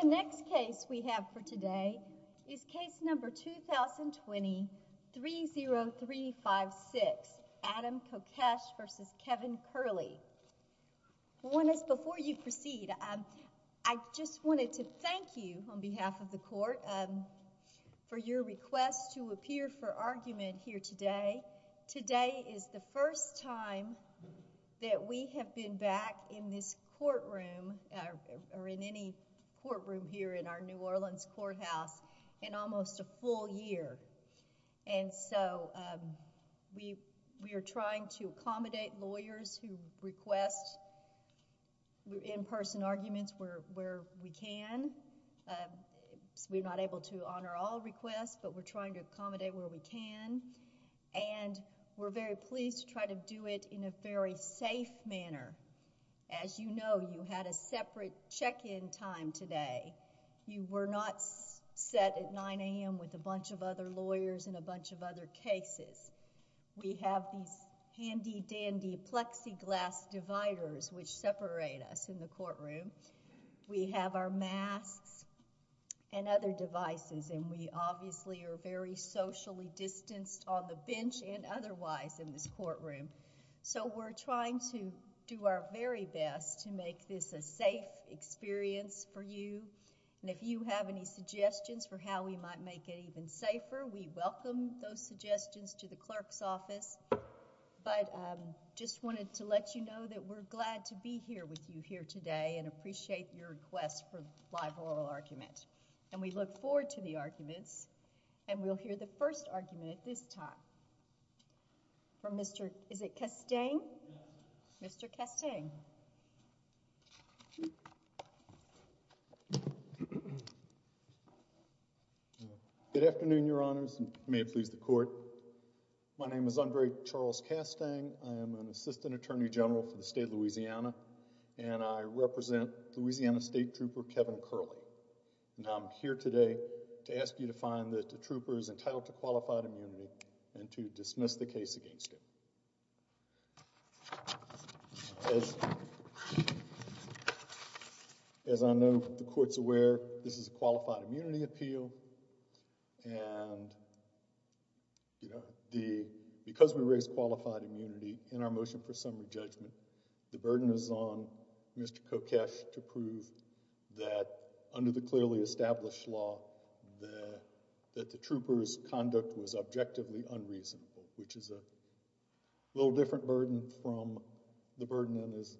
The next case we have for today is case number 2020-30356, Adam Kokesh v. Kevin Curlee. Before you proceed, I just wanted to thank you on behalf of the court for your request to appear for argument here today. Today is the first time that we have been back in this courtroom, or in any courtroom here in our New Orleans courthouse, in almost a full year. And so we are trying to accommodate lawyers who request in-person arguments where we can. We're not able to honor all requests, but we're trying to accommodate where we can. And we're very pleased to try to do it in a very safe manner. As you know, you had a separate check-in time today. You were not set at 9 a.m. with a bunch of other lawyers and a bunch of other cases. We have these handy-dandy plexiglass dividers which separate us in the courtroom. We have our masks and other devices, and we obviously are very socially distanced on the bench and otherwise in this courtroom. So we're trying to do our very best to make this a safe experience for you. And if you have any suggestions for how we might make it even safer, we welcome those suggestions to the clerk's office. But just wanted to let you know that we're glad to be here with you here today and appreciate your request for a live oral argument. And we look forward to the arguments, and we'll hear the first argument at this time from Mr. Castaigne. Mr. Castaigne. Good afternoon, Your Honors, and may it please the Court. My name is Andre Charles Castaigne. I am an Assistant Attorney General for the State of Louisiana, and I represent Louisiana State Trooper Kevin Curley. And I'm here today to ask you to find that the trooper is entitled to qualified immunity and to dismiss the case against him. As I know the Court's aware, this is a qualified immunity appeal. And, you know, because we raised qualified immunity in our motion for summary judgment, the burden is on Mr. Kokesh to prove that under the clearly established law that the trooper's conduct was objectively unreasonable, which is a little different burden from the burden on his,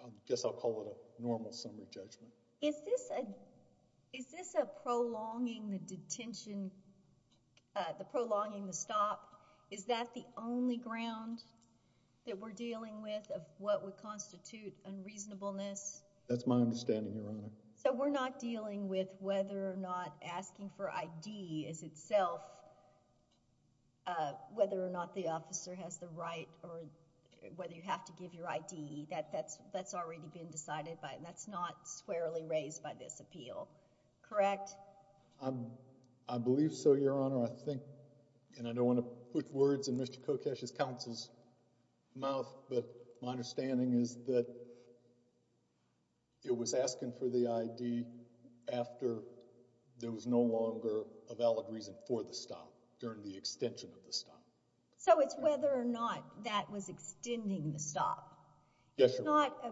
I guess I'll call it a normal summary judgment. Is this a prolonging the detention, the prolonging the stop? Is that the only ground that we're dealing with of what would constitute unreasonableness? That's my understanding, Your Honor. So we're not dealing with whether or not asking for ID is itself whether or not the officer has the right or whether you have to give your ID. That's already been decided by, and that's not squarely raised by this appeal. Correct? I believe so, Your Honor. I think, and I don't want to put words in Mr. Kokesh's counsel's mouth, but my understanding is that it was asking for the ID after there was no longer a valid reason for the stop during the extension of the stop. So it's whether or not that was extending the stop. Yes, Your Honor. It's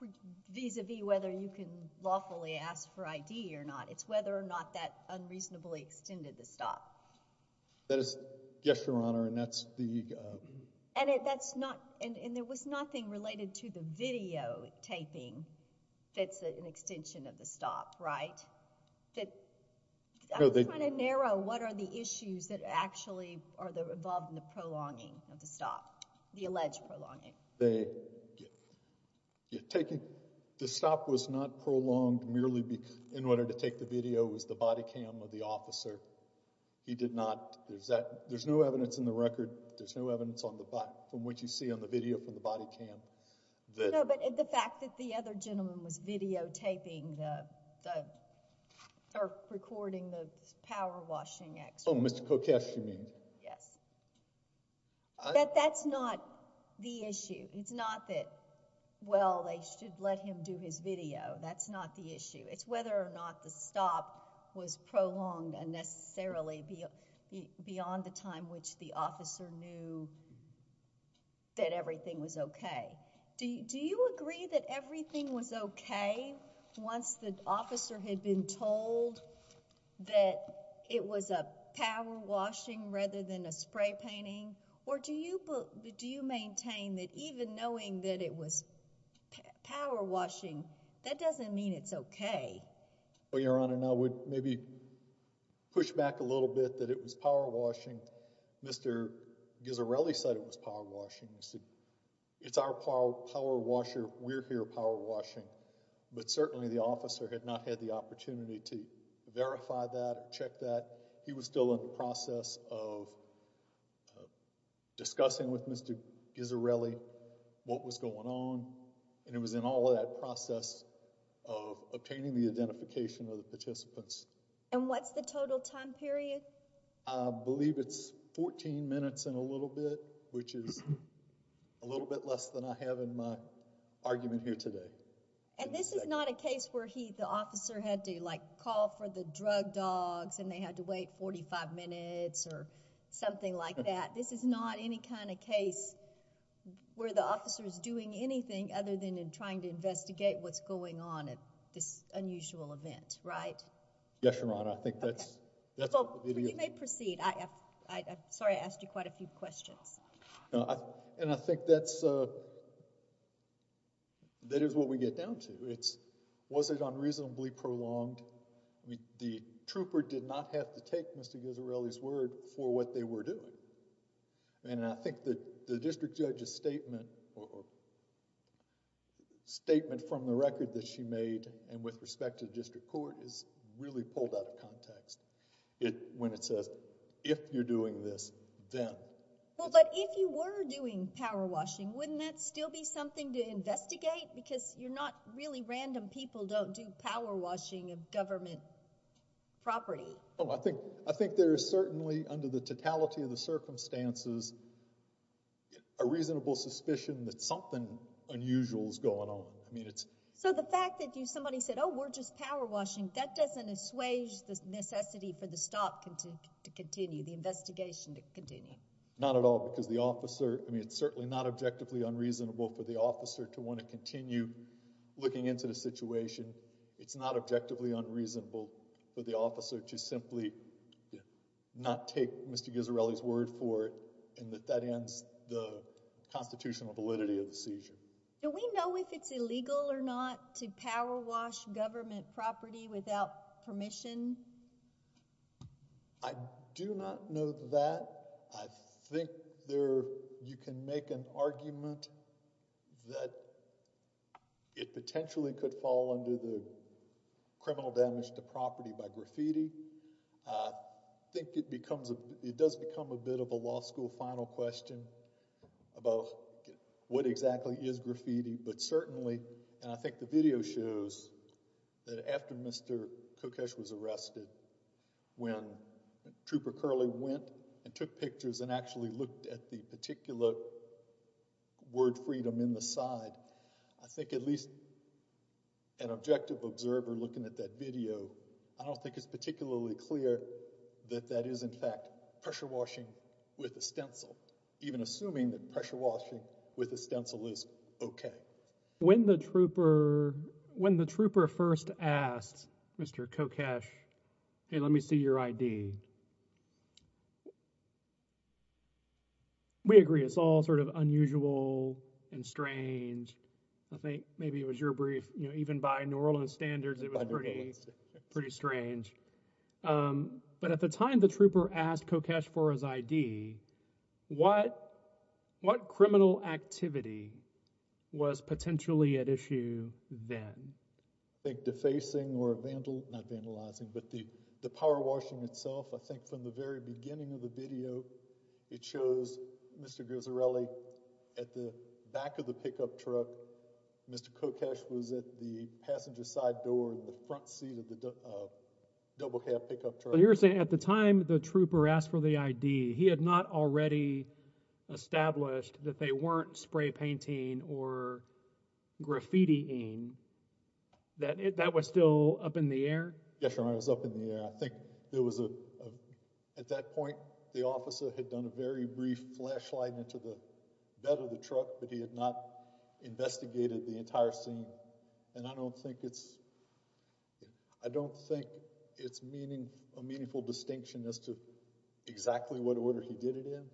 not vis-a-vis whether you can lawfully ask for ID or not. It's whether or not that unreasonably extended the stop. That is, yes, Your Honor, and that's the— And it, that's not, and there was nothing related to the videotaping that's an extension of the stop, right? I was trying to narrow what are the issues that actually are involved in the prolonging of the stop, the alleged prolonging. The stop was not prolonged merely in order to take the video. It was the body cam of the officer. He did not, there's no evidence in the record, there's no evidence on the, from what you see on the video from the body cam. No, but the fact that the other gentleman was videotaping the, or recording the power washing action. Oh, Mr. Kokash, you mean? Yes. But that's not the issue. It's not that, well, they should let him do his video. That's not the issue. It's whether or not the stop was prolonged unnecessarily beyond the time which the officer knew that everything was okay. Do you agree that everything was okay once the officer had been told that it was a power washing rather than a spray painting? Or do you maintain that even knowing that it was power washing, that doesn't mean it's okay? Well, Your Honor, and I would maybe push back a little bit that it was power washing. Mr. Ghisarelli said it was power washing. It's our power washer, we're here power washing. But certainly the officer had not had the opportunity to verify that or check that. He was still in the process of discussing with Mr. Ghisarelli what was going on. And he was in all of that process of obtaining the identification of the participants. And what's the total time period? I believe it's 14 minutes and a little bit, which is a little bit less than I have in my argument here today. And this is not a case where the officer had to call for the drug dogs and they had to wait 45 minutes or something like that. This is not any kind of case where the officer is doing anything other than trying to investigate what's going on at this unusual event, right? Yes, Your Honor. I think that's... You may proceed. I'm sorry I asked you quite a few questions. And I think that is what we get down to. Was it unreasonably prolonged? The trooper did not have to take Mr. Ghisarelli's word for what they were doing. And I think that the district judge's statement or statement from the record that she made and with respect to the district court is really pulled out of context. When it says, if you're doing this, then. Well, but if you were doing power washing, wouldn't that still be something to investigate? Because you're not... really random people don't do power washing of government property. I think there is certainly, under the totality of the circumstances, a reasonable suspicion that something unusual is going on. So the fact that somebody said, oh, we're just power washing, that doesn't assuage the necessity for the stop to continue, the investigation to continue? Not at all, because the officer... I mean, it's certainly not objectively unreasonable for the officer to want to continue looking into the situation. It's not objectively unreasonable for the officer to simply not take Mr. Ghisarelli's word for it and that that ends the constitutional validity of the seizure. Do we know if it's illegal or not to power wash government property without permission? I do not know that. I think you can make an argument that it potentially could fall under the criminal damage to property by graffiti. I think it does become a bit of a law school final question about what exactly is graffiti, but certainly, and I think the video shows that after Mr. Kokesh was arrested, when Trooper Curley went and took pictures and actually looked at the particular word freedom in the side, I think at least an objective observer looking at that video, I don't think it's particularly clear that that is, in fact, pressure washing with a stencil, even assuming that pressure washing with a stencil is okay. When the trooper first asked Mr. Kokesh, hey, let me see your ID, we agree it's all sort of unusual and strange. I think maybe it was your brief, you know, even by New Orleans standards, it was pretty strange. But at the time the trooper asked Kokesh for his ID, what criminal activity was potentially at issue then? I think defacing or vandalizing, not vandalizing, but the power washing itself. I think from the very beginning of the video, it shows Mr. Guzzarelli at the back of the pickup truck. Mr. Kokesh was at the passenger side door in the front seat of the double cab pickup truck. So you're saying at the time the trooper asked for the ID, he had not already established that they weren't spray painting or graffiti-ing. That was still up in the air? Yes, Your Honor, it was up in the air. I think at that point the officer had done a very brief flashlight into the bed of the truck, but he had not investigated the entire scene. And I don't think it's a meaningful distinction as to exactly what order he did it in.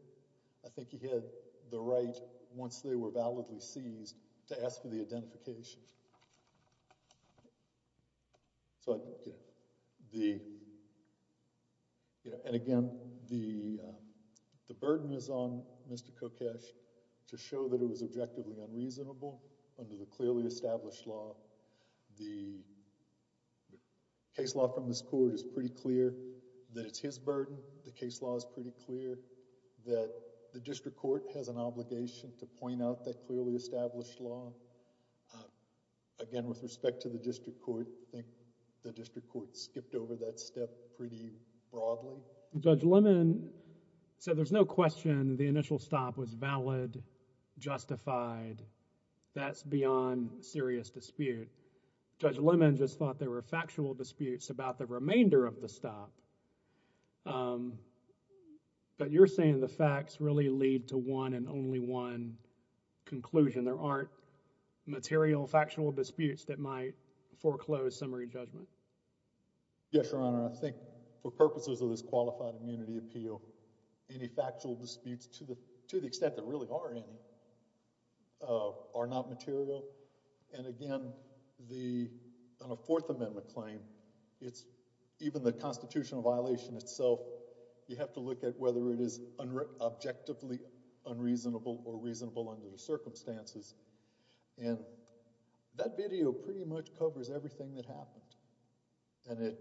I think he had the right, once they were validly seized, to ask for the identification. And again, the burden is on Mr. Kokesh to show that it was objectively unreasonable under the clearly established law. The case law from this court is pretty clear that it's his burden. The case law is pretty clear that the district court has an obligation to point out that clearly established law. Again, with respect to the district court, I think the district court skipped over that step pretty broadly. Judge Lemon said there's no question the initial stop was valid, justified. That's beyond serious dispute. Judge Lemon just thought there were factual disputes about the remainder of the stop. But you're saying the facts really lead to one and only one conclusion. There aren't material, factional disputes that might foreclose summary judgment. Yes, Your Honor. I think for purposes of this qualified immunity appeal, any factual disputes, to the extent there really are any, are not material. And again, on a Fourth Amendment claim, even the constitutional violation itself, you have to look at whether it is objectively unreasonable or reasonable under the circumstances. And that video pretty much covers everything that happened. And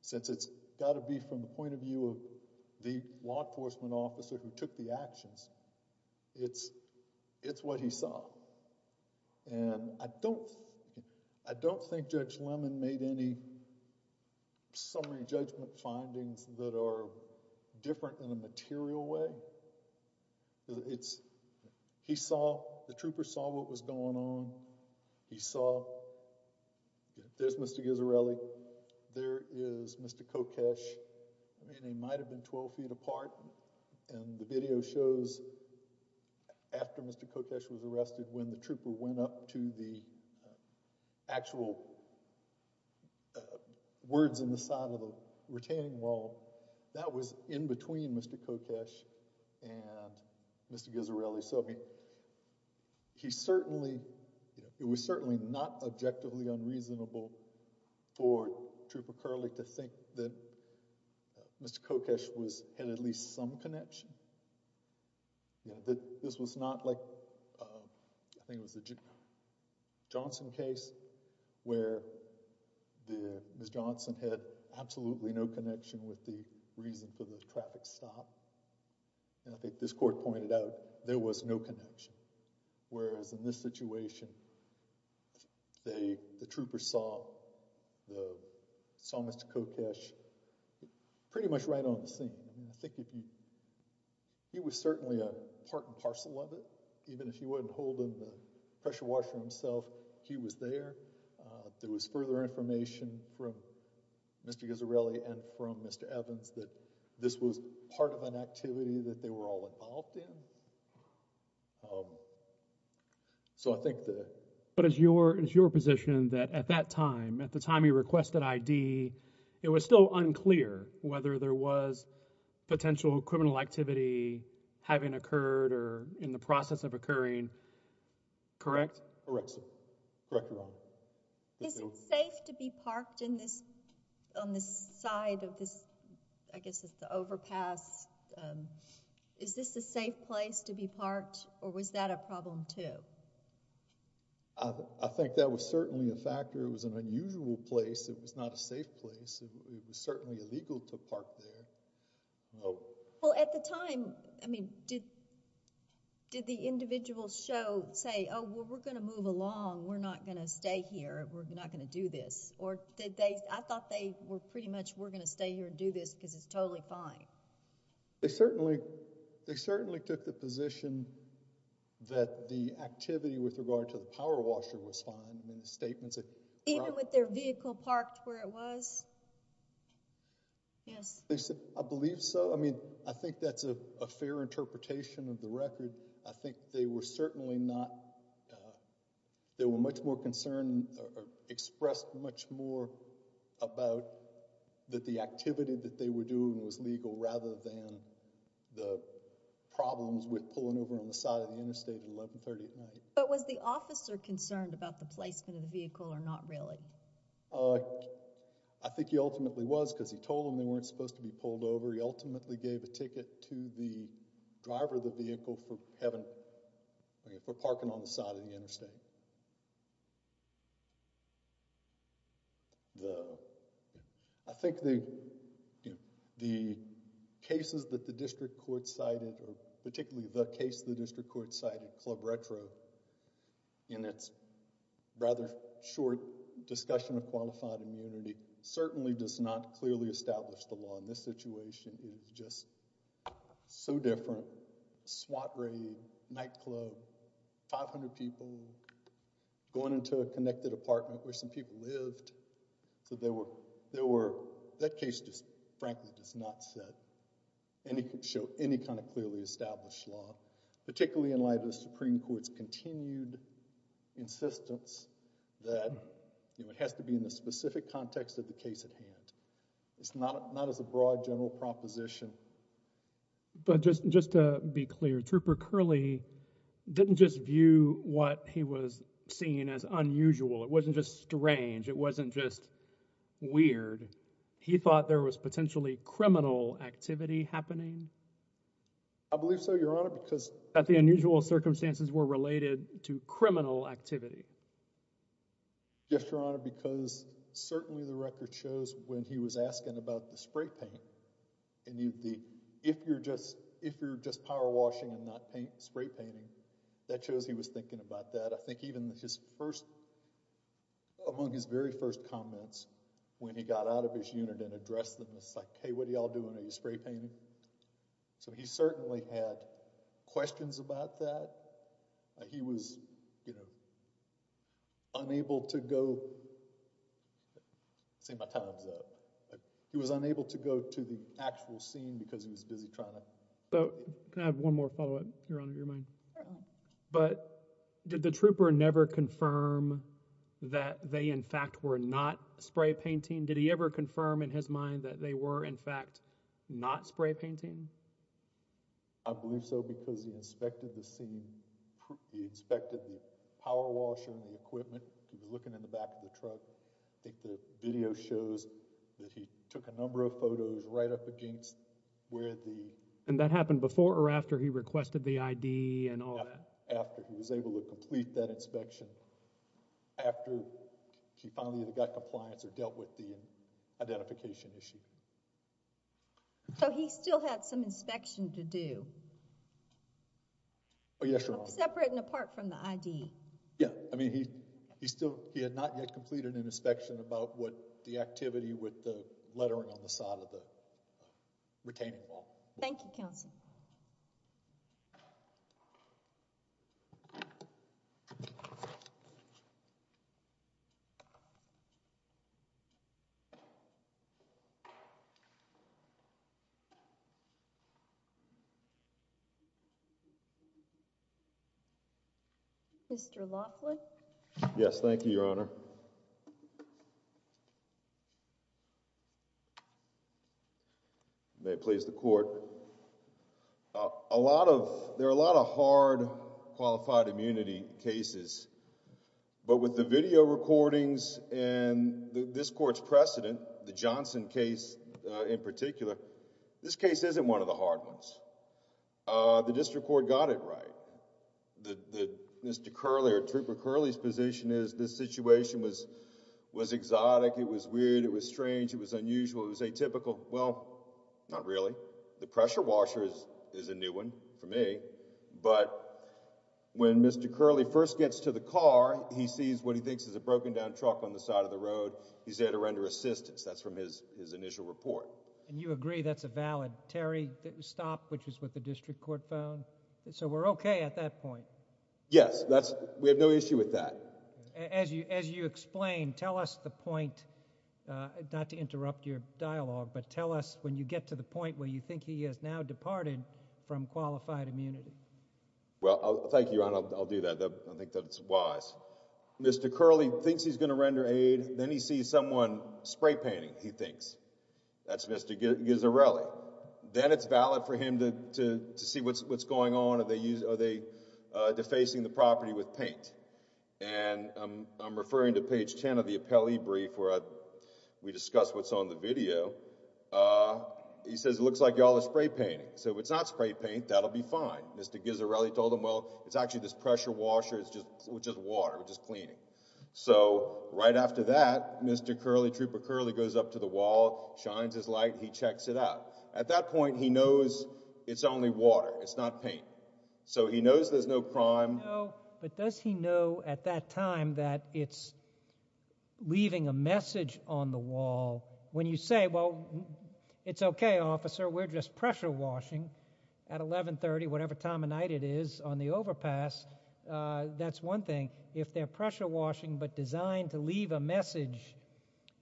since it's got to be from the point of view of the law enforcement officer who took the actions, it's what he saw. And I don't think Judge Lemon made any summary judgment findings that are different in a material way. He saw, the trooper saw what was going on. He saw, there's Mr. Ghisarelli. There is Mr. Kokesh. I mean, they might have been 12 feet apart. And the video shows after Mr. Kokesh was arrested when the trooper went up to the actual words in the side of the retaining wall. That was in between Mr. Kokesh and Mr. Ghisarelli. He certainly, it was certainly not objectively unreasonable for Trooper Curley to think that Mr. Kokesh had at least some connection. This was not like, I think it was the Johnson case, where Ms. Johnson had absolutely no connection with the reason for the traffic stop. And I think this court pointed out, there was no connection. Whereas in this situation, the trooper saw Mr. Kokesh pretty much right on the scene. I think if you, he was certainly a part and parcel of it. Even if he wasn't holding the pressure washer himself, he was there. There was further information from Mr. Ghisarelli and from Mr. Evans that this was part of an activity that they were all involved in. So I think that... But it's your position that at that time, at the time he requested ID, it was still unclear whether there was potential criminal activity having occurred or in the process of occurring, correct? Correct, sir. Correct, Your Honor. Is it safe to be parked in this, on this side of this, I guess it's the overpass. Is this a safe place to be parked or was that a problem too? I think that was certainly a factor. It was an unusual place. It was not a safe place. It was certainly illegal to park there. Well, at the time, I mean, did the individual show, say, oh, well, we're going to move along. We're not going to stay here. We're not going to do this. Or did they, I thought they were pretty much, we're going to stay here and do this because it's totally fine. They certainly, they certainly took the position that the activity with regard to the power washer was fine in the statements. Even with their vehicle parked where it was? Yes. I believe so. I mean, I think that's a fair interpretation of the record. I think they were certainly not, they were much more concerned, expressed much more about that the activity that they were doing was legal rather than the problems with pulling over on the side of the interstate at 1130 at night. But was the officer concerned about the placement of the vehicle or not really? I think he ultimately was because he told them they weren't supposed to be pulled over. He ultimately gave a ticket to the driver of the vehicle for parking on the side of the interstate. I think the cases that the district court cited, particularly the case the district court cited, Club Retro, in its rather short discussion of qualified immunity, certainly does not clearly establish the law in this situation. It was just so different. Swat raid, nightclub, 500 people going into a connected apartment where some people lived. So there were, that case just frankly does not set any, show any kind of clearly established law. Particularly in light of the Supreme Court's continued insistence that it has to be in the specific context of the case at hand. It's not as a broad general proposition. But just to be clear, Trooper Curley didn't just view what he was seeing as unusual. It wasn't just strange. It wasn't just weird. He thought there was potentially criminal activity happening? I believe so, Your Honor, because That the unusual circumstances were related to criminal activity. Yes, Your Honor, because certainly the record shows when he was asking about the spray paint, and if you're just power washing and not spray painting, that shows he was thinking about that. I think even his first, among his very first comments, when he got out of his unit and addressed them, it's like, hey, what are y'all doing? Are you spray painting? So he certainly had questions about that. He was, you know, unable to go, I'm saying my time's up. He was unable to go to the actual scene because he was busy trying to Can I have one more follow up, Your Honor, if you don't mind? But did the trooper never confirm that they in fact were not spray painting? Did he ever confirm in his mind that they were in fact not spray painting? I believe so because he inspected the scene. He inspected the power washer and the equipment. He was looking in the back of the truck. I think the video shows that he took a number of photos right up against where the And that happened before or after he requested the ID and all that? After he was able to complete that inspection. After he finally either got compliance or dealt with the identification issue. So he still had some inspection to do? Oh, yes, Your Honor. Separate and apart from the ID. Yeah, I mean, he still, he had not yet completed an inspection about what the activity with the lettering on the side of the retaining wall. Thank you, Counsel. Mr. Laughlin. Yes. Thank you, Your Honor. May it please the court. A lot of there are a lot of hard qualified immunity cases. But with the video recordings and this court's precedent, the Johnson case in particular, this case isn't one of the hard ones. The district court got it right. Mr. Curley or Trooper Curley's position is this situation was exotic. It was weird. It was strange. It was unusual. It was atypical. Well, not really. The pressure washer is a new one for me. But when Mr. Curley first gets to the car, he sees what he thinks is a broken down truck on the side of the road. He's there to render assistance. That's from his his initial report. And you agree that's a valid Terry stop, which is what the district court found. So we're OK at that point. Yes, that's we have no issue with that. As you as you explain, tell us the point. Not to interrupt your dialogue, but tell us when you get to the point where you think he has now departed from qualified immunity. Well, thank you. I'll do that. I think that's wise. Mr. Curley thinks he's going to render aid. Then he sees someone spray painting. He thinks that's Mr. Gizzarelli. Then it's valid for him to see what's what's going on. Are they defacing the property with paint? And I'm referring to page 10 of the appellee brief where we discuss what's on the video. He says it looks like y'all are spray painting. So it's not spray paint. That'll be fine. Mr. Gizzarelli told him, well, it's actually this pressure washer. It's just just water. We're just cleaning. So right after that, Mr. Curley, Trooper Curley goes up to the wall, shines his light. He checks it out. At that point, he knows it's only water. It's not paint. So he knows there's no crime. But does he know at that time that it's leaving a message on the wall? When you say, well, it's okay, officer. We're just pressure washing. At 1130, whatever time of night it is on the overpass, that's one thing. If they're pressure washing but designed to leave a message,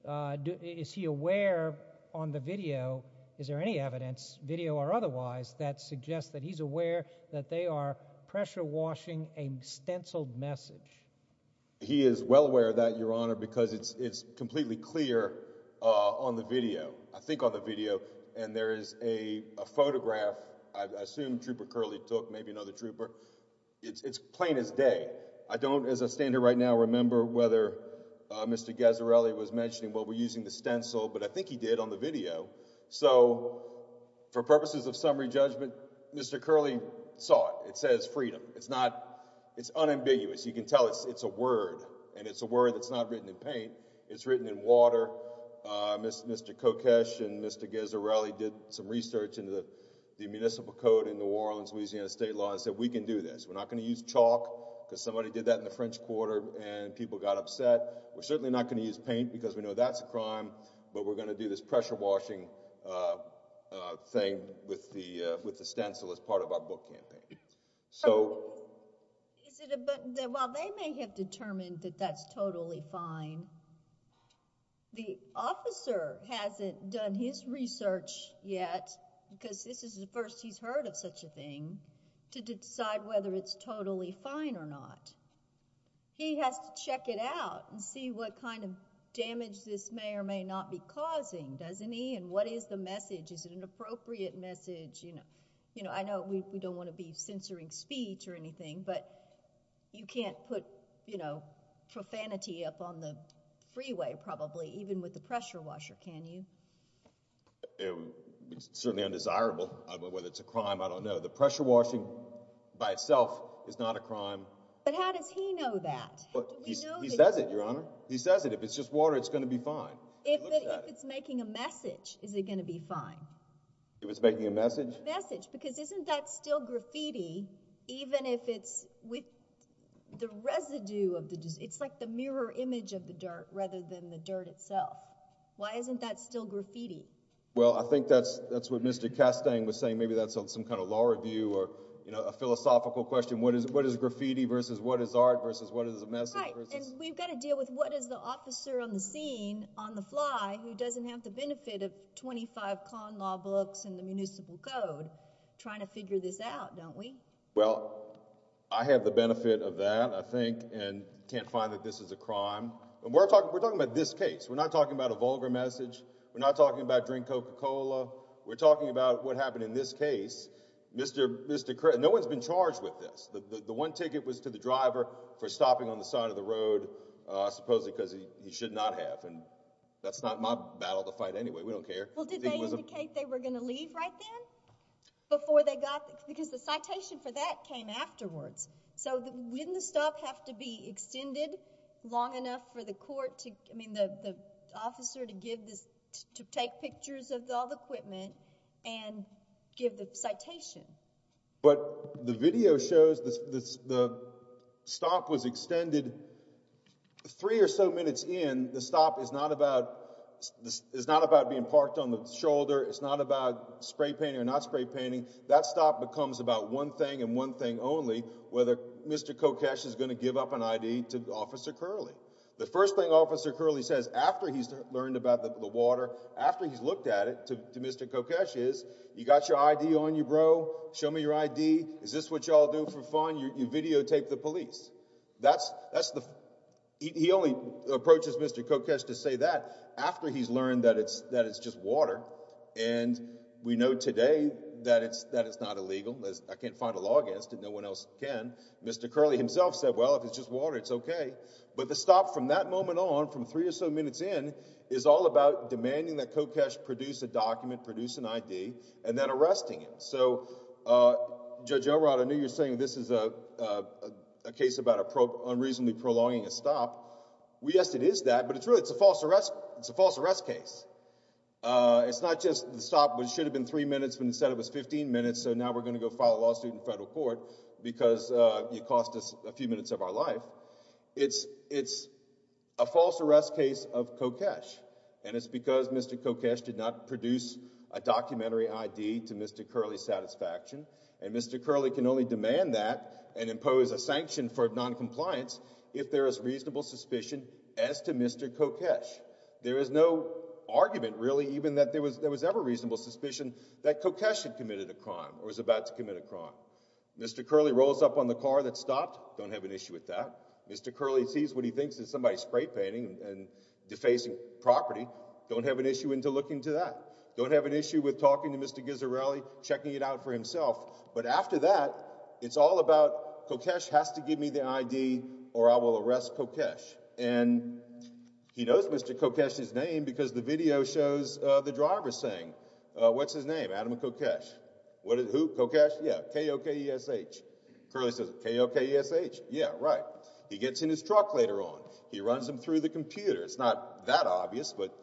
is he aware on the video, is there any evidence, video or otherwise, that suggests that he's aware that they are pressure washing a stenciled message? He is well aware of that, Your Honor, because it's completely clear on the video. I think on the video. And there is a photograph, I assume Trooper Curley took, maybe another trooper. It's plain as day. I don't, as I stand here right now, remember whether Mr. Gizzarelli was mentioning, well, we're using the stencil. But I think he did on the video. So for purposes of summary judgment, Mr. Curley saw it. It says freedom. It's not, it's unambiguous. You can tell it's a word. And it's a word that's not written in paint. It's written in water. Mr. Kokesh and Mr. Gizzarelli did some research into the municipal code in New Orleans, Louisiana state law and said we can do this. We're not going to use chalk because somebody did that in the French Quarter and people got upset. We're certainly not going to use paint because we know that's a crime. But we're going to do this pressure washing thing with the stencil as part of our book campaign. So. Is it, well, they may have determined that that's totally fine. The officer hasn't done his research yet, because this is the first he's heard of such a thing, to decide whether it's totally fine or not. He has to check it out and see what kind of damage this may or may not be causing, doesn't he? And what is the message? Is it an appropriate message? You know, I know we don't want to be censoring speech or anything, but you can't put, you know, profanity up on the freeway, probably, even with the pressure washer, can you? It's certainly undesirable. Whether it's a crime, I don't know. The pressure washing by itself is not a crime. But how does he know that? He says it, Your Honor. He says it. If it's just water, it's going to be fine. If it's making a message, is it going to be fine? If it's making a message? A message. Because isn't that still graffiti, even if it's with the residue of the, it's like the mirror image of the dirt rather than the dirt itself. Why isn't that still graffiti? Well, I think that's what Mr. Castang was saying. Maybe that's some kind of law review or, you know, a philosophical question. What is graffiti versus what is art versus what is a message? Right. And we've got to deal with what is the officer on the scene on the fly who doesn't have the benefit of 25 con law books and the municipal code trying to figure this out, don't we? Well, I have the benefit of that, I think, and can't find that this is a crime. We're talking about this case. We're not talking about a vulgar message. We're not talking about drink Coca-Cola. We're talking about what happened in this case. No one's been charged with this. The one ticket was to the driver for stopping on the side of the road supposedly because he should not have. And that's not my battle to fight anyway. We don't care. Well, did they indicate they were going to leave right then before they got, because the citation for that came afterwards. So wouldn't the stop have to be extended long enough for the court to, I mean, the officer to give this, to take pictures of all the equipment and give the citation? But the video shows the stop was extended three or so minutes in. The stop is not about being parked on the shoulder. It's not about spray painting or not spray painting. That stop becomes about one thing and one thing only, whether Mr. Kokesh is going to give up an I.D. to Officer Curley. The first thing Officer Curley says after he's learned about the water, after he's looked at it, to Mr. Kokesh is, you got your I.D. on you, bro? Show me your I.D. Is this what you all do for fun? You videotape the police. That's the – he only approaches Mr. Kokesh to say that after he's learned that it's just water. And we know today that it's not illegal. I can't find a law against it. No one else can. Mr. Curley himself said, well, if it's just water, it's okay. But the stop from that moment on, from three or so minutes in, is all about demanding that Kokesh produce a document, produce an I.D., and then arresting him. So, Judge Elrod, I know you're saying this is a case about unreasonably prolonging a stop. Yes, it is that, but it's really – it's a false arrest case. It's not just the stop, which should have been three minutes, but instead it was 15 minutes, so now we're going to go file a lawsuit in federal court because it cost us a few minutes of our life. It's a false arrest case of Kokesh, and it's because Mr. Kokesh did not produce a documentary I.D. to Mr. Curley's satisfaction. And Mr. Curley can only demand that and impose a sanction for noncompliance if there is reasonable suspicion as to Mr. Kokesh. There is no argument, really, even that there was ever reasonable suspicion that Kokesh had committed a crime or was about to commit a crime. Mr. Curley rolls up on the car that stopped, don't have an issue with that. Mr. Curley sees what he thinks is somebody spray painting and defacing property, don't have an issue into looking into that. Don't have an issue with talking to Mr. Ghisarelli, checking it out for himself. But after that, it's all about Kokesh has to give me the I.D. or I will arrest Kokesh. And he knows Mr. Kokesh's name because the video shows the driver saying, what's his name? Adam Kokesh. Who? Kokesh? Yeah. K-O-K-E-S-H. Curley says, K-O-K-E-S-H. Yeah, right. He gets in his truck later on. He runs him through the computer. It's not that obvious, but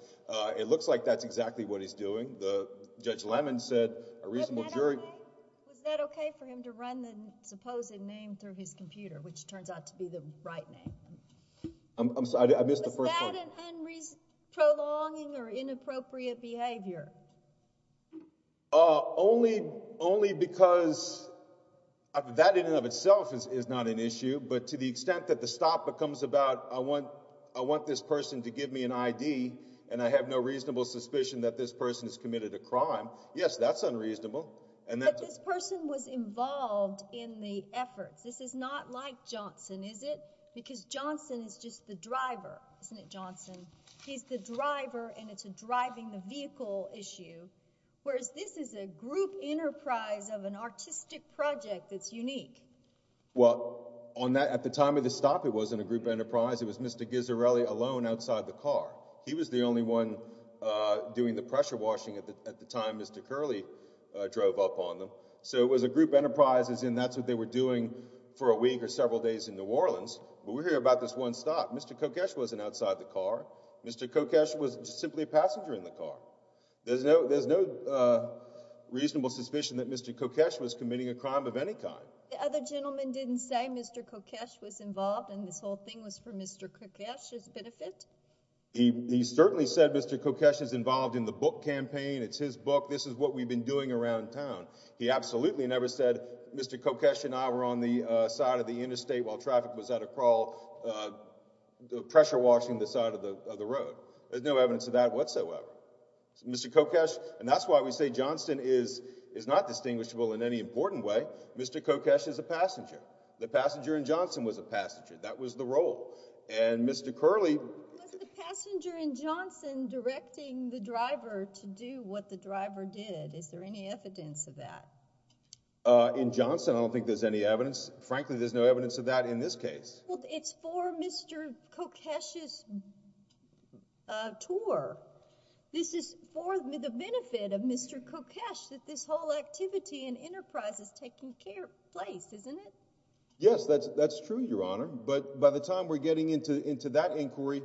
it looks like that's exactly what he's doing. Was that okay for him to run the supposed name through his computer, which turns out to be the right name? Was that an unprolonging or inappropriate behavior? Only because that in and of itself is not an issue. But to the extent that the stop becomes about I want this person to give me an I.D. and I have no reasonable suspicion that this person has committed a crime, yes, that's unreasonable. But this person was involved in the efforts. This is not like Johnson, is it? Because Johnson is just the driver, isn't it, Johnson? He's the driver, and it's a driving the vehicle issue. Whereas this is a group enterprise of an artistic project that's unique. Well, at the time of the stop, it wasn't a group enterprise. It was Mr. Ghisarelli alone outside the car. He was the only one doing the pressure washing at the time Mr. Curley drove up on them. So it was a group enterprise as in that's what they were doing for a week or several days in New Orleans. But we hear about this one stop. Mr. Kokesh wasn't outside the car. Mr. Kokesh was simply a passenger in the car. There's no reasonable suspicion that Mr. Kokesh was committing a crime of any kind. The other gentleman didn't say Mr. Kokesh was involved and this whole thing was for Mr. Kokesh's benefit? He certainly said Mr. Kokesh is involved in the book campaign. It's his book. This is what we've been doing around town. He absolutely never said Mr. Kokesh and I were on the side of the interstate while traffic was at a crawl pressure washing the side of the road. There's no evidence of that whatsoever. Mr. Kokesh and that's why we say Johnston is not distinguishable in any important way. Mr. Kokesh is a passenger. The passenger in Johnston was a passenger. That was the role. And Mr. Curley. Was the passenger in Johnston directing the driver to do what the driver did? Is there any evidence of that? In Johnston I don't think there's any evidence. Frankly there's no evidence of that in this case. Well, it's for Mr. Kokesh's tour. This is for the benefit of Mr. Kokesh that this whole activity and enterprise is taking place, isn't it? Yes, that's true, Your Honor. But by the time we're getting into that inquiry,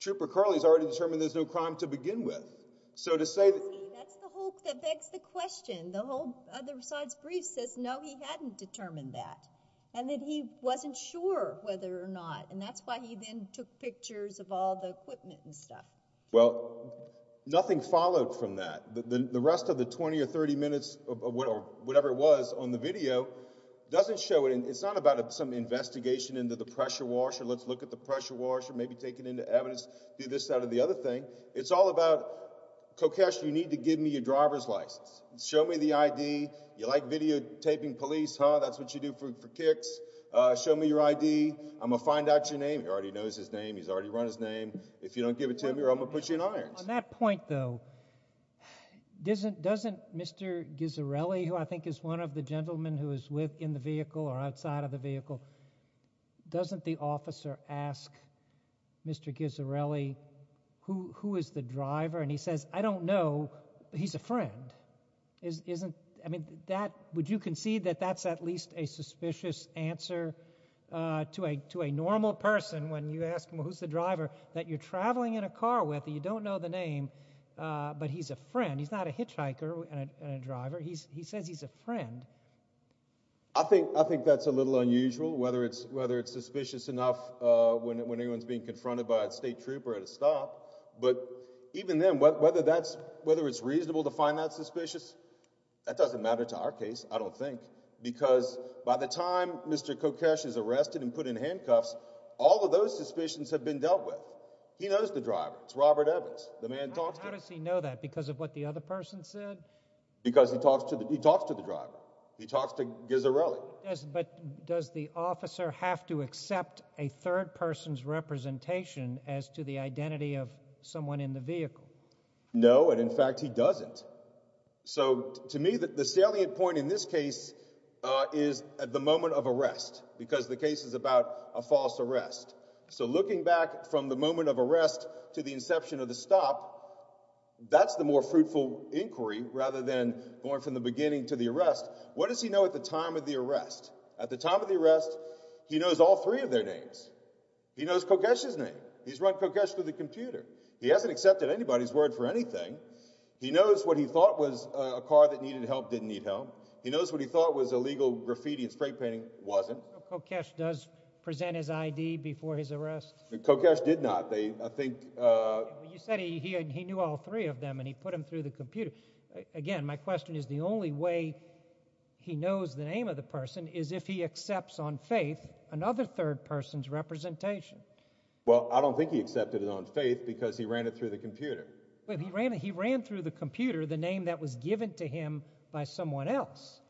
Trooper Curley has already determined there's no crime to begin with. So to say— See, that's the whole—that begs the question. The whole other side's brief says no, he hadn't determined that and that he wasn't sure whether or not. And that's why he then took pictures of all the equipment and stuff. Well, nothing followed from that. The rest of the 20 or 30 minutes or whatever it was on the video doesn't show it. It's not about some investigation into the pressure washer, let's look at the pressure washer, maybe take it into evidence, do this out of the other thing. It's all about, Kokesh, you need to give me your driver's license. Show me the ID. You like videotaping police, huh? That's what you do for kicks. Show me your ID. I'm going to find out your name. He already knows his name. He's already run his name. If you don't give it to me, I'm going to put you in irons. On that point, though, doesn't Mr. Ghisarelli, who I think is one of the gentlemen who was with in the vehicle or outside of the vehicle, doesn't the officer ask Mr. Ghisarelli, who is the driver? And he says, I don't know. He's a friend. I mean, would you concede that that's at least a suspicious answer to a normal person when you ask him, well, who's the driver, that you're traveling in a car with, and you don't know the name, but he's a friend. He's not a hitchhiker and a driver. He says he's a friend. I think that's a little unusual, whether it's suspicious enough But even then, whether it's reasonable to find that suspicious, that doesn't matter to our case, I don't think, because by the time Mr. Kokesh is arrested and put in handcuffs, all of those suspicions have been dealt with. He knows the driver. It's Robert Evans. How does he know that, because of what the other person said? Because he talks to the driver. He talks to Ghisarelli. But does the officer have to accept a third person's representation as to the identity of someone in the vehicle? No, and in fact, he doesn't. So to me, the salient point in this case is at the moment of arrest, because the case is about a false arrest. So looking back from the moment of arrest to the inception of the stop, that's the more fruitful inquiry, rather than going from the beginning to the arrest. What does he know at the time of the arrest? At the time of the arrest, he knows all three of their names. He knows Kokesh's name. He's run Kokesh through the computer. He hasn't accepted anybody's word for anything. He knows what he thought was a car that needed help didn't need help. He knows what he thought was illegal graffiti and spray painting wasn't. Kokesh does present his ID before his arrest? Kokesh did not. You said he knew all three of them, and he put them through the computer. Again, my question is the only way he knows the name of the person is if he accepts on faith another third person's representation. Well, I don't think he accepted it on faith because he ran it through the computer. He ran through the computer the name that was given to him by someone else.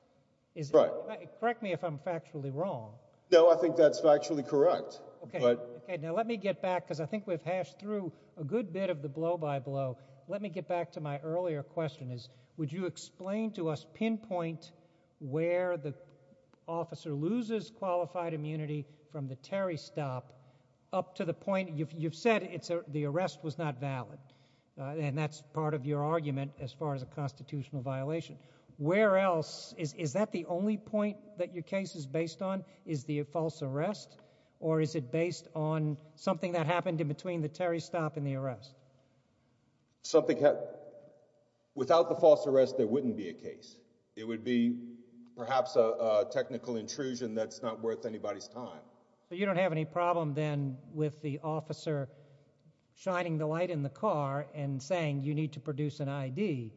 Correct me if I'm factually wrong. No, I think that's factually correct. Okay, now let me get back, because I think we've hashed through a good bit of the blow-by-blow. Let me get back to my earlier question. Would you explain to us, pinpoint where the officer loses qualified immunity from the Terry stop up to the point? You've said the arrest was not valid, and that's part of your argument as far as a constitutional violation. Is that the only point that your case is based on? Is the false arrest, or is it based on something that happened in between the Terry stop and the arrest? Without the false arrest, there wouldn't be a case. It would be perhaps a technical intrusion that's not worth anybody's time. But you don't have any problem then with the officer shining the light in the car and saying you need to produce an ID?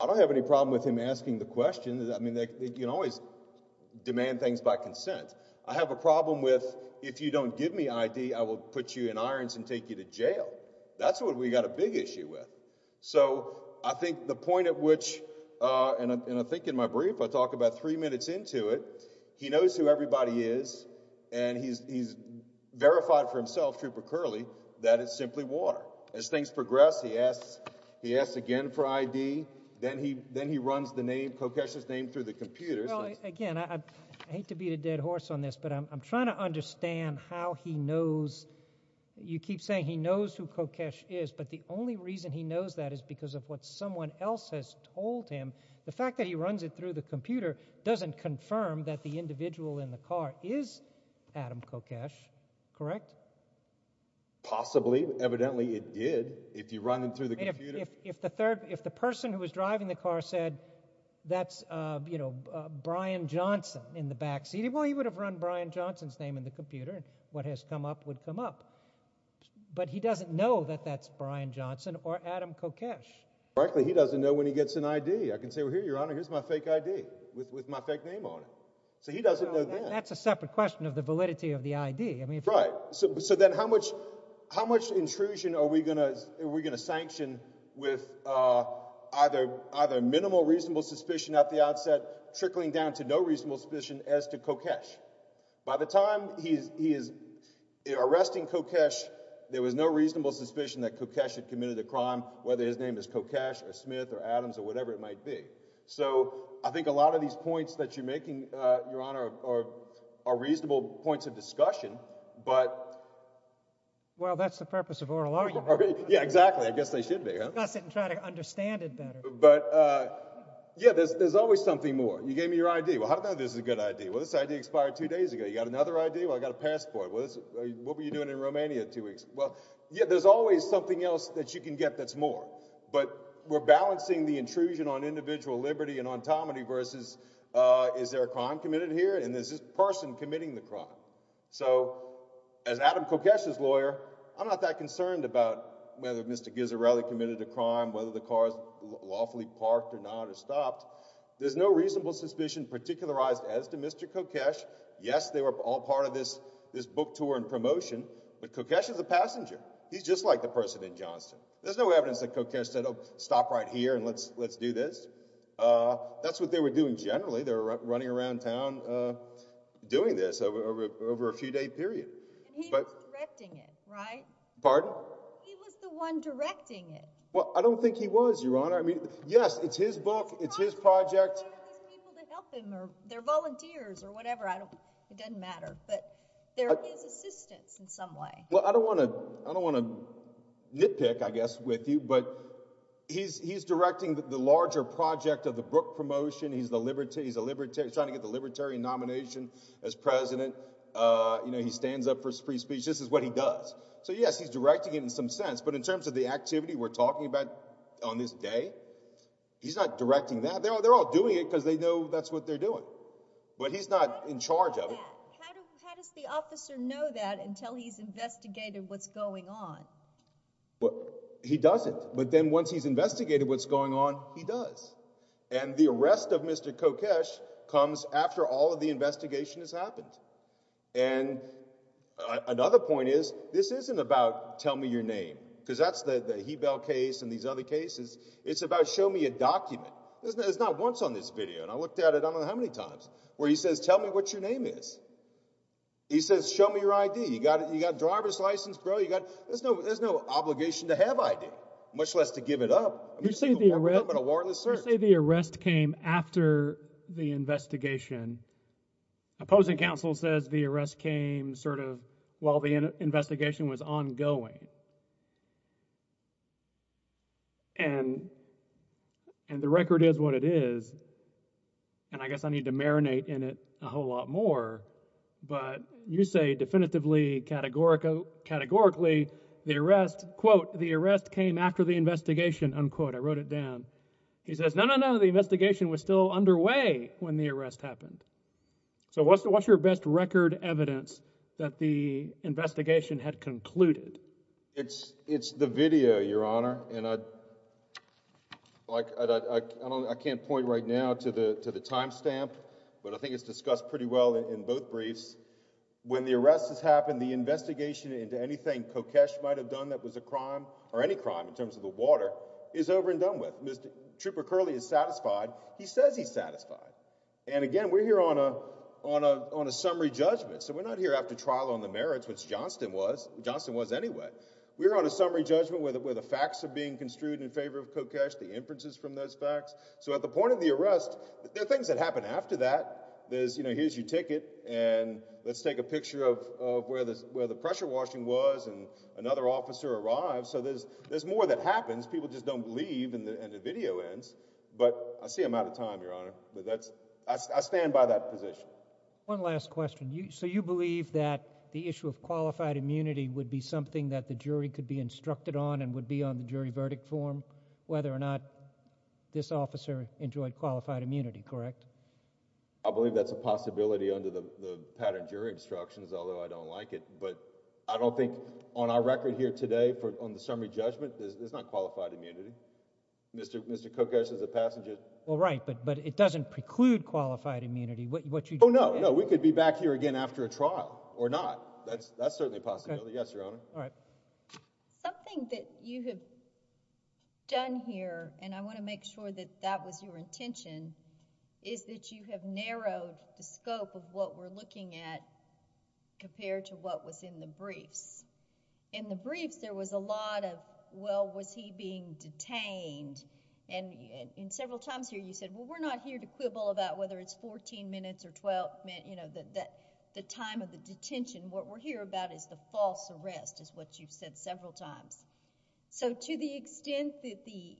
I don't have any problem with him asking the question. I mean, you can always demand things by consent. I have a problem with if you don't give me ID, I will put you in irons and take you to jail. That's what we've got a big issue with. So I think the point at which, and I think in my brief I talk about three minutes into it, he knows who everybody is, and he's verified for himself, Trooper Curley, that it's simply water. As things progress, he asks again for ID. Then he runs the name, Kokesh's name, through the computer. Well, again, I hate to beat a dead horse on this, but I'm trying to understand how he knows. You keep saying he knows who Kokesh is, but the only reason he knows that is because of what someone else has told him. The fact that he runs it through the computer doesn't confirm that the individual in the car is Adam Kokesh, correct? Possibly. Evidently it did. If you run it through the computer. If the person who was driving the car said that's, you know, Brian Johnson in the backseat, well, he would have run Brian Johnson's name in the computer, and what has come up would come up. But he doesn't know that that's Brian Johnson or Adam Kokesh. Frankly, he doesn't know when he gets an ID. I can say, well, here, Your Honor, here's my fake ID with my fake name on it. So he doesn't know then. That's a separate question of the validity of the ID. Right. So then how much intrusion are we going to sanction with either minimal reasonable suspicion at the outset, trickling down to no reasonable suspicion as to Kokesh? By the time he is arresting Kokesh, there was no reasonable suspicion that Kokesh had committed the crime, whether his name is Kokesh or Smith or Adams or whatever it might be. So I think a lot of these points that you're making, Your Honor, are reasonable points of discussion. But. Well, that's the purpose of oral argument. Yeah, exactly. I guess they should be. Discuss it and try to understand it better. But, yeah, there's always something more. You gave me your ID. Well, how do I know this is a good ID? Well, this ID expired two days ago. You got another ID? Well, I got a passport. What were you doing in Romania two weeks? Well, yeah, there's always something else that you can get that's more. But we're balancing the intrusion on individual liberty and on autonomy versus is there a crime committed here? And is this person committing the crime? So as Adam Kokesh's lawyer, I'm not that concerned about whether Mr. Ghisarelli committed a crime, whether the car is lawfully parked or not or stopped. There's no reasonable suspicion particularized as to Mr. Kokesh. Yes, they were all part of this book tour and promotion, but Kokesh is a passenger. He's just like the person in Johnston. There's no evidence that Kokesh said, oh, stop right here and let's do this. That's what they were doing generally. They were running around town doing this over a few day period. And he was directing it, right? Pardon? He was the one directing it. Well, I don't think he was, Your Honor. I mean, yes, it's his book. It's his project. It's probably his people that help him or they're volunteers or whatever. It doesn't matter, but they're his assistants in some way. Well, I don't want to nitpick, I guess, with you, but he's directing the larger project of the book promotion. He's trying to get the Libertarian nomination as president. He stands up for free speech. This is what he does. So, yes, he's directing it in some sense, but in terms of the activity we're talking about on this day, he's not directing that. They're all doing it because they know that's what they're doing, but he's not in charge of it. How does the officer know that until he's investigated what's going on? He doesn't, but then once he's investigated what's going on, he does. And the arrest of Mr. Kokesh comes after all of the investigation has happened. And another point is this isn't about tell me your name because that's the Hebel case and these other cases. It's about show me a document. It's not once on this video, and I looked at it I don't know how many times, where he says tell me what your name is. He says show me your I.D. You got a driver's license, bro. There's no obligation to have I.D., much less to give it up. You say the arrest came after the investigation. Opposing counsel says the arrest came sort of while the investigation was ongoing. And the record is what it is, and I guess I need to marinate in it a whole lot more. But you say definitively categorically the arrest, quote, the arrest came after the investigation, unquote. I wrote it down. He says no, no, no, the investigation was still underway when the arrest happened. So what's your best record evidence that the investigation had concluded? It's the video, Your Honor, and I can't point right now to the time stamp, but I think it's discussed pretty well in both briefs. When the arrest has happened, the investigation into anything Kokesh might have done that was a crime, or any crime in terms of the water, is over and done with. Trooper Curley is satisfied. He says he's satisfied. And, again, we're here on a summary judgment, so we're not here after trial on the merits, which Johnston was. Johnston was anyway. We're on a summary judgment where the facts are being construed in favor of Kokesh, the inferences from those facts. So at the point of the arrest, there are things that happen after that. There's, you know, here's your ticket, and let's take a picture of where the pressure washing was, and another officer arrives, so there's more that happens. People just don't leave, and the video ends. But I see I'm out of time, Your Honor, but I stand by that position. One last question. So you believe that the issue of qualified immunity would be something that the jury could be instructed on and would be on the jury verdict form, whether or not this officer enjoyed qualified immunity, correct? I believe that's a possibility under the pattern of jury instructions, although I don't like it. But I don't think on our record here today, on the summary judgment, there's not qualified immunity. Mr. Kokesh is a passenger. Well, right, but it doesn't preclude qualified immunity. Oh, no, no. We could be back here again after a trial or not. That's certainly a possibility. Yes, Your Honor. All right. Something that you have done here, and I want to make sure that that was your intention, is that you have narrowed the scope of what we're looking at compared to what was in the briefs. In the briefs, there was a lot of, well, was he being detained, and several times here you said, well, we're not here to quibble about whether it's 14 minutes or 12 minutes, you know, the time of the detention. What we're here about is the false arrest, is what you've said several times. So to the extent that the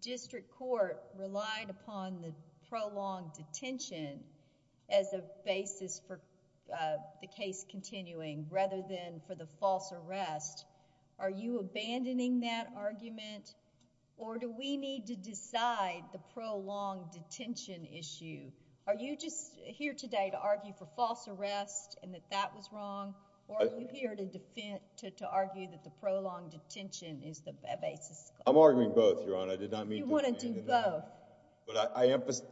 district court relied upon the prolonged detention as a basis for the case continuing, rather than for the false arrest, are you abandoning that argument, or do we need to decide the prolonged detention issue? Are you just here today to argue for false arrest and that that was wrong, or are you here to argue that the prolonged detention is the basis? I'm arguing both, Your Honor. I did not mean to abandon them. You want to do both. But I emphasize,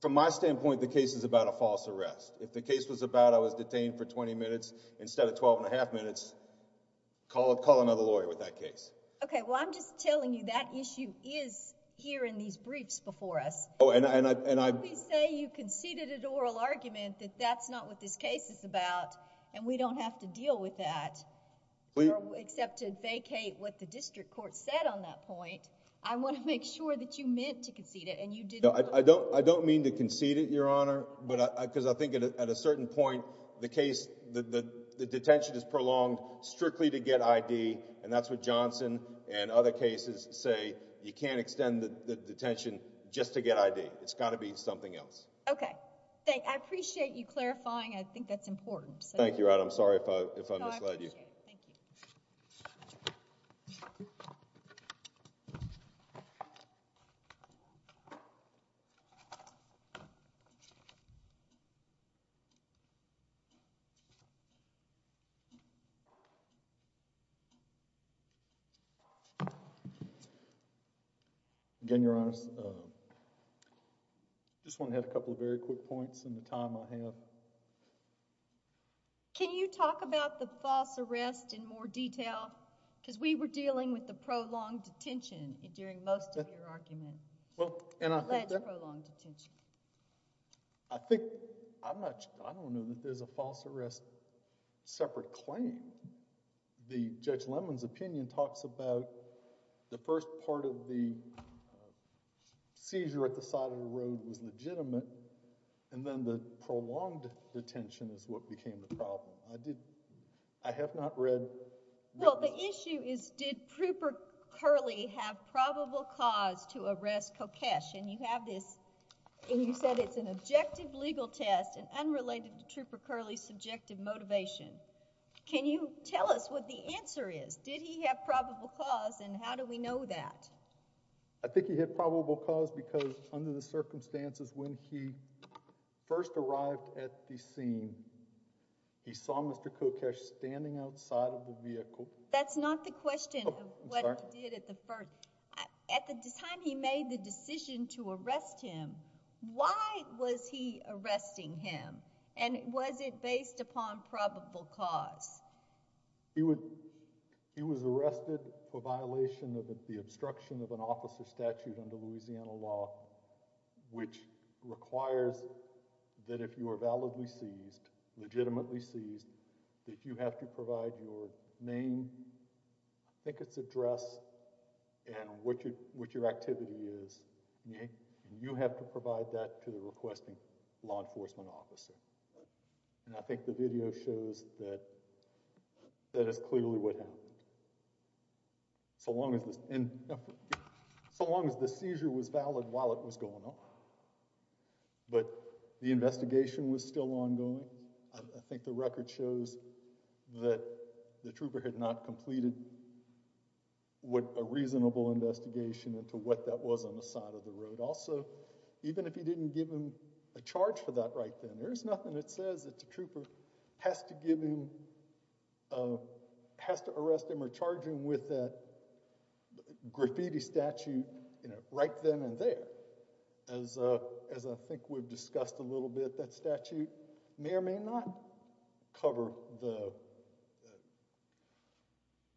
from my standpoint, the case is about a false arrest. If the case was about I was detained for 20 minutes instead of 12 and a half minutes, call another lawyer with that case. Okay. Well, I'm just telling you that issue is here in these briefs before us. You say you conceded an oral argument that that's not what this case is about, and we don't have to deal with that except to vacate what the district court said on that point. I want to make sure that you meant to concede it and you didn't. I don't mean to concede it, Your Honor, because I think at a certain point the case, the detention is prolonged strictly to get I.D., and that's what Johnson and other cases say. You can't extend the detention just to get I.D. It's got to be something else. Okay. I appreciate you clarifying. I think that's important. Thank you, Your Honor. I'm sorry if I misled you. No, I appreciate it. Thank you. Again, Your Honor, I just want to add a couple of very quick points in the time I have. Can you talk about the false arrest in more detail? Because we were dealing with the prolonged detention during most of your argument. Alleged prolonged detention. I think I'm not sure. I don't know that there's a false arrest separate claim. The Judge Lemon's opinion talks about the first part of the seizure at the side of the road was legitimate, and then the prolonged detention is what became the problem. I have not read— Well, the issue is did Trooper Curley have probable cause to arrest Kokesh? And you have this—and you said it's an objective legal test and unrelated to Trooper Curley's subjective motivation. Can you tell us what the answer is? Did he have probable cause, and how do we know that? I think he had probable cause because under the circumstances when he first arrived at the scene, he saw Mr. Kokesh standing outside of the vehicle. That's not the question of what he did at the first— At the time he made the decision to arrest him, why was he arresting him? And was it based upon probable cause? He was arrested for violation of the obstruction of an officer's statute under Louisiana law, which requires that if you are validly seized, legitimately seized, that you have to provide your name, I think it's address, and what your activity is. And you have to provide that to the requesting law enforcement officer. And I think the video shows that that is clearly what happened. So long as the seizure was valid while it was going on. But the investigation was still ongoing. I think the record shows that the trooper had not completed a reasonable investigation into what that was on the side of the road. Also, even if he didn't give him a charge for that right then, there's nothing that says that the trooper has to give him— has to arrest him or charge him with a graffiti statute right then and there. As I think we've discussed a little bit, that statute may or may not cover the—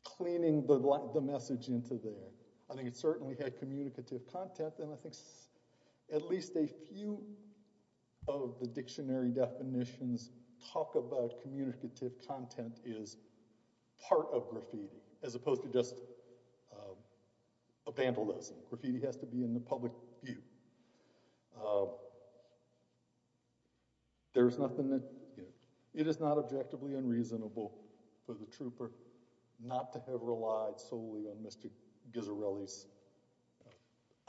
cleaning the message into there. I think it certainly had communicative content, and I think at least a few of the dictionary definitions talk about communicative content as part of graffiti as opposed to just a vandalism. Graffiti has to be in the public view. There's nothing that—it is not objectively unreasonable for the trooper not to have relied solely on Mr. Ghisarelli's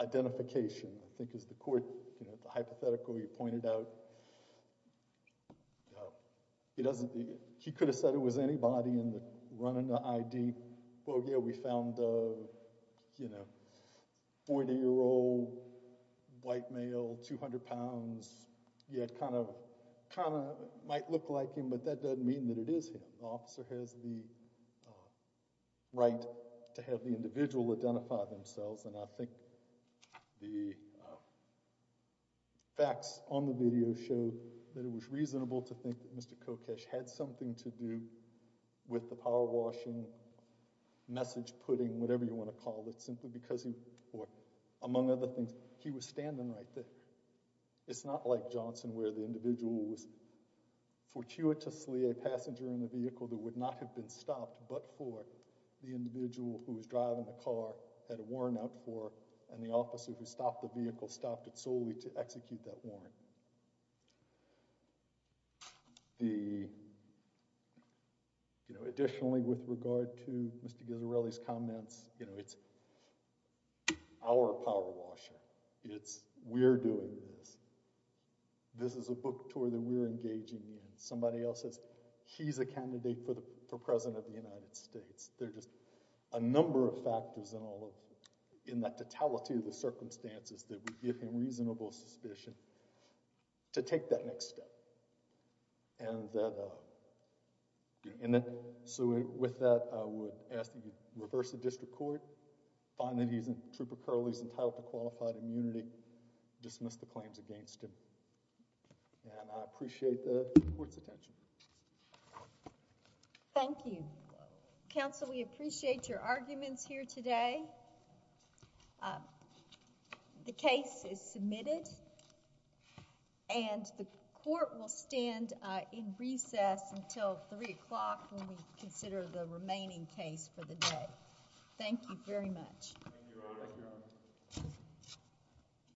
identification. I think as the court hypothetically pointed out, he could have said it was anybody running the ID. Well, yeah, we found a 40-year-old white male, 200 pounds. Yeah, it kind of might look like him, but that doesn't mean that it is him. The officer has the right to have the individual identify themselves, and I think the facts on the video show that it was reasonable to think that Mr. Kokesh had something to do with the power washing, message putting, whatever you want to call it, simply because he— or among other things, he was standing right there. It's not like Johnson where the individual was fortuitously a passenger in the vehicle that would not have been stopped but for the individual who was driving the car, had a warrant out for, and the officer who stopped the vehicle stopped it solely to execute that warrant. Additionally, with regard to Mr. Ghisarelli's comments, it's our power washing. It's we're doing this. This is a book tour that we're engaging in. Somebody else says he's a candidate for president of the United States. There are just a number of factors in that totality of the circumstances that would give him reasonable suspicion to take that next step. So with that, I would ask that you reverse the district court, find that Trooper Curley is entitled to qualified immunity, dismiss the claims against him. And I appreciate the court's attention. Thank you. Counsel, we appreciate your arguments here today. The case is submitted and the court will stand in recess until 3 o'clock when we consider the remaining case for the day. Thank you very much.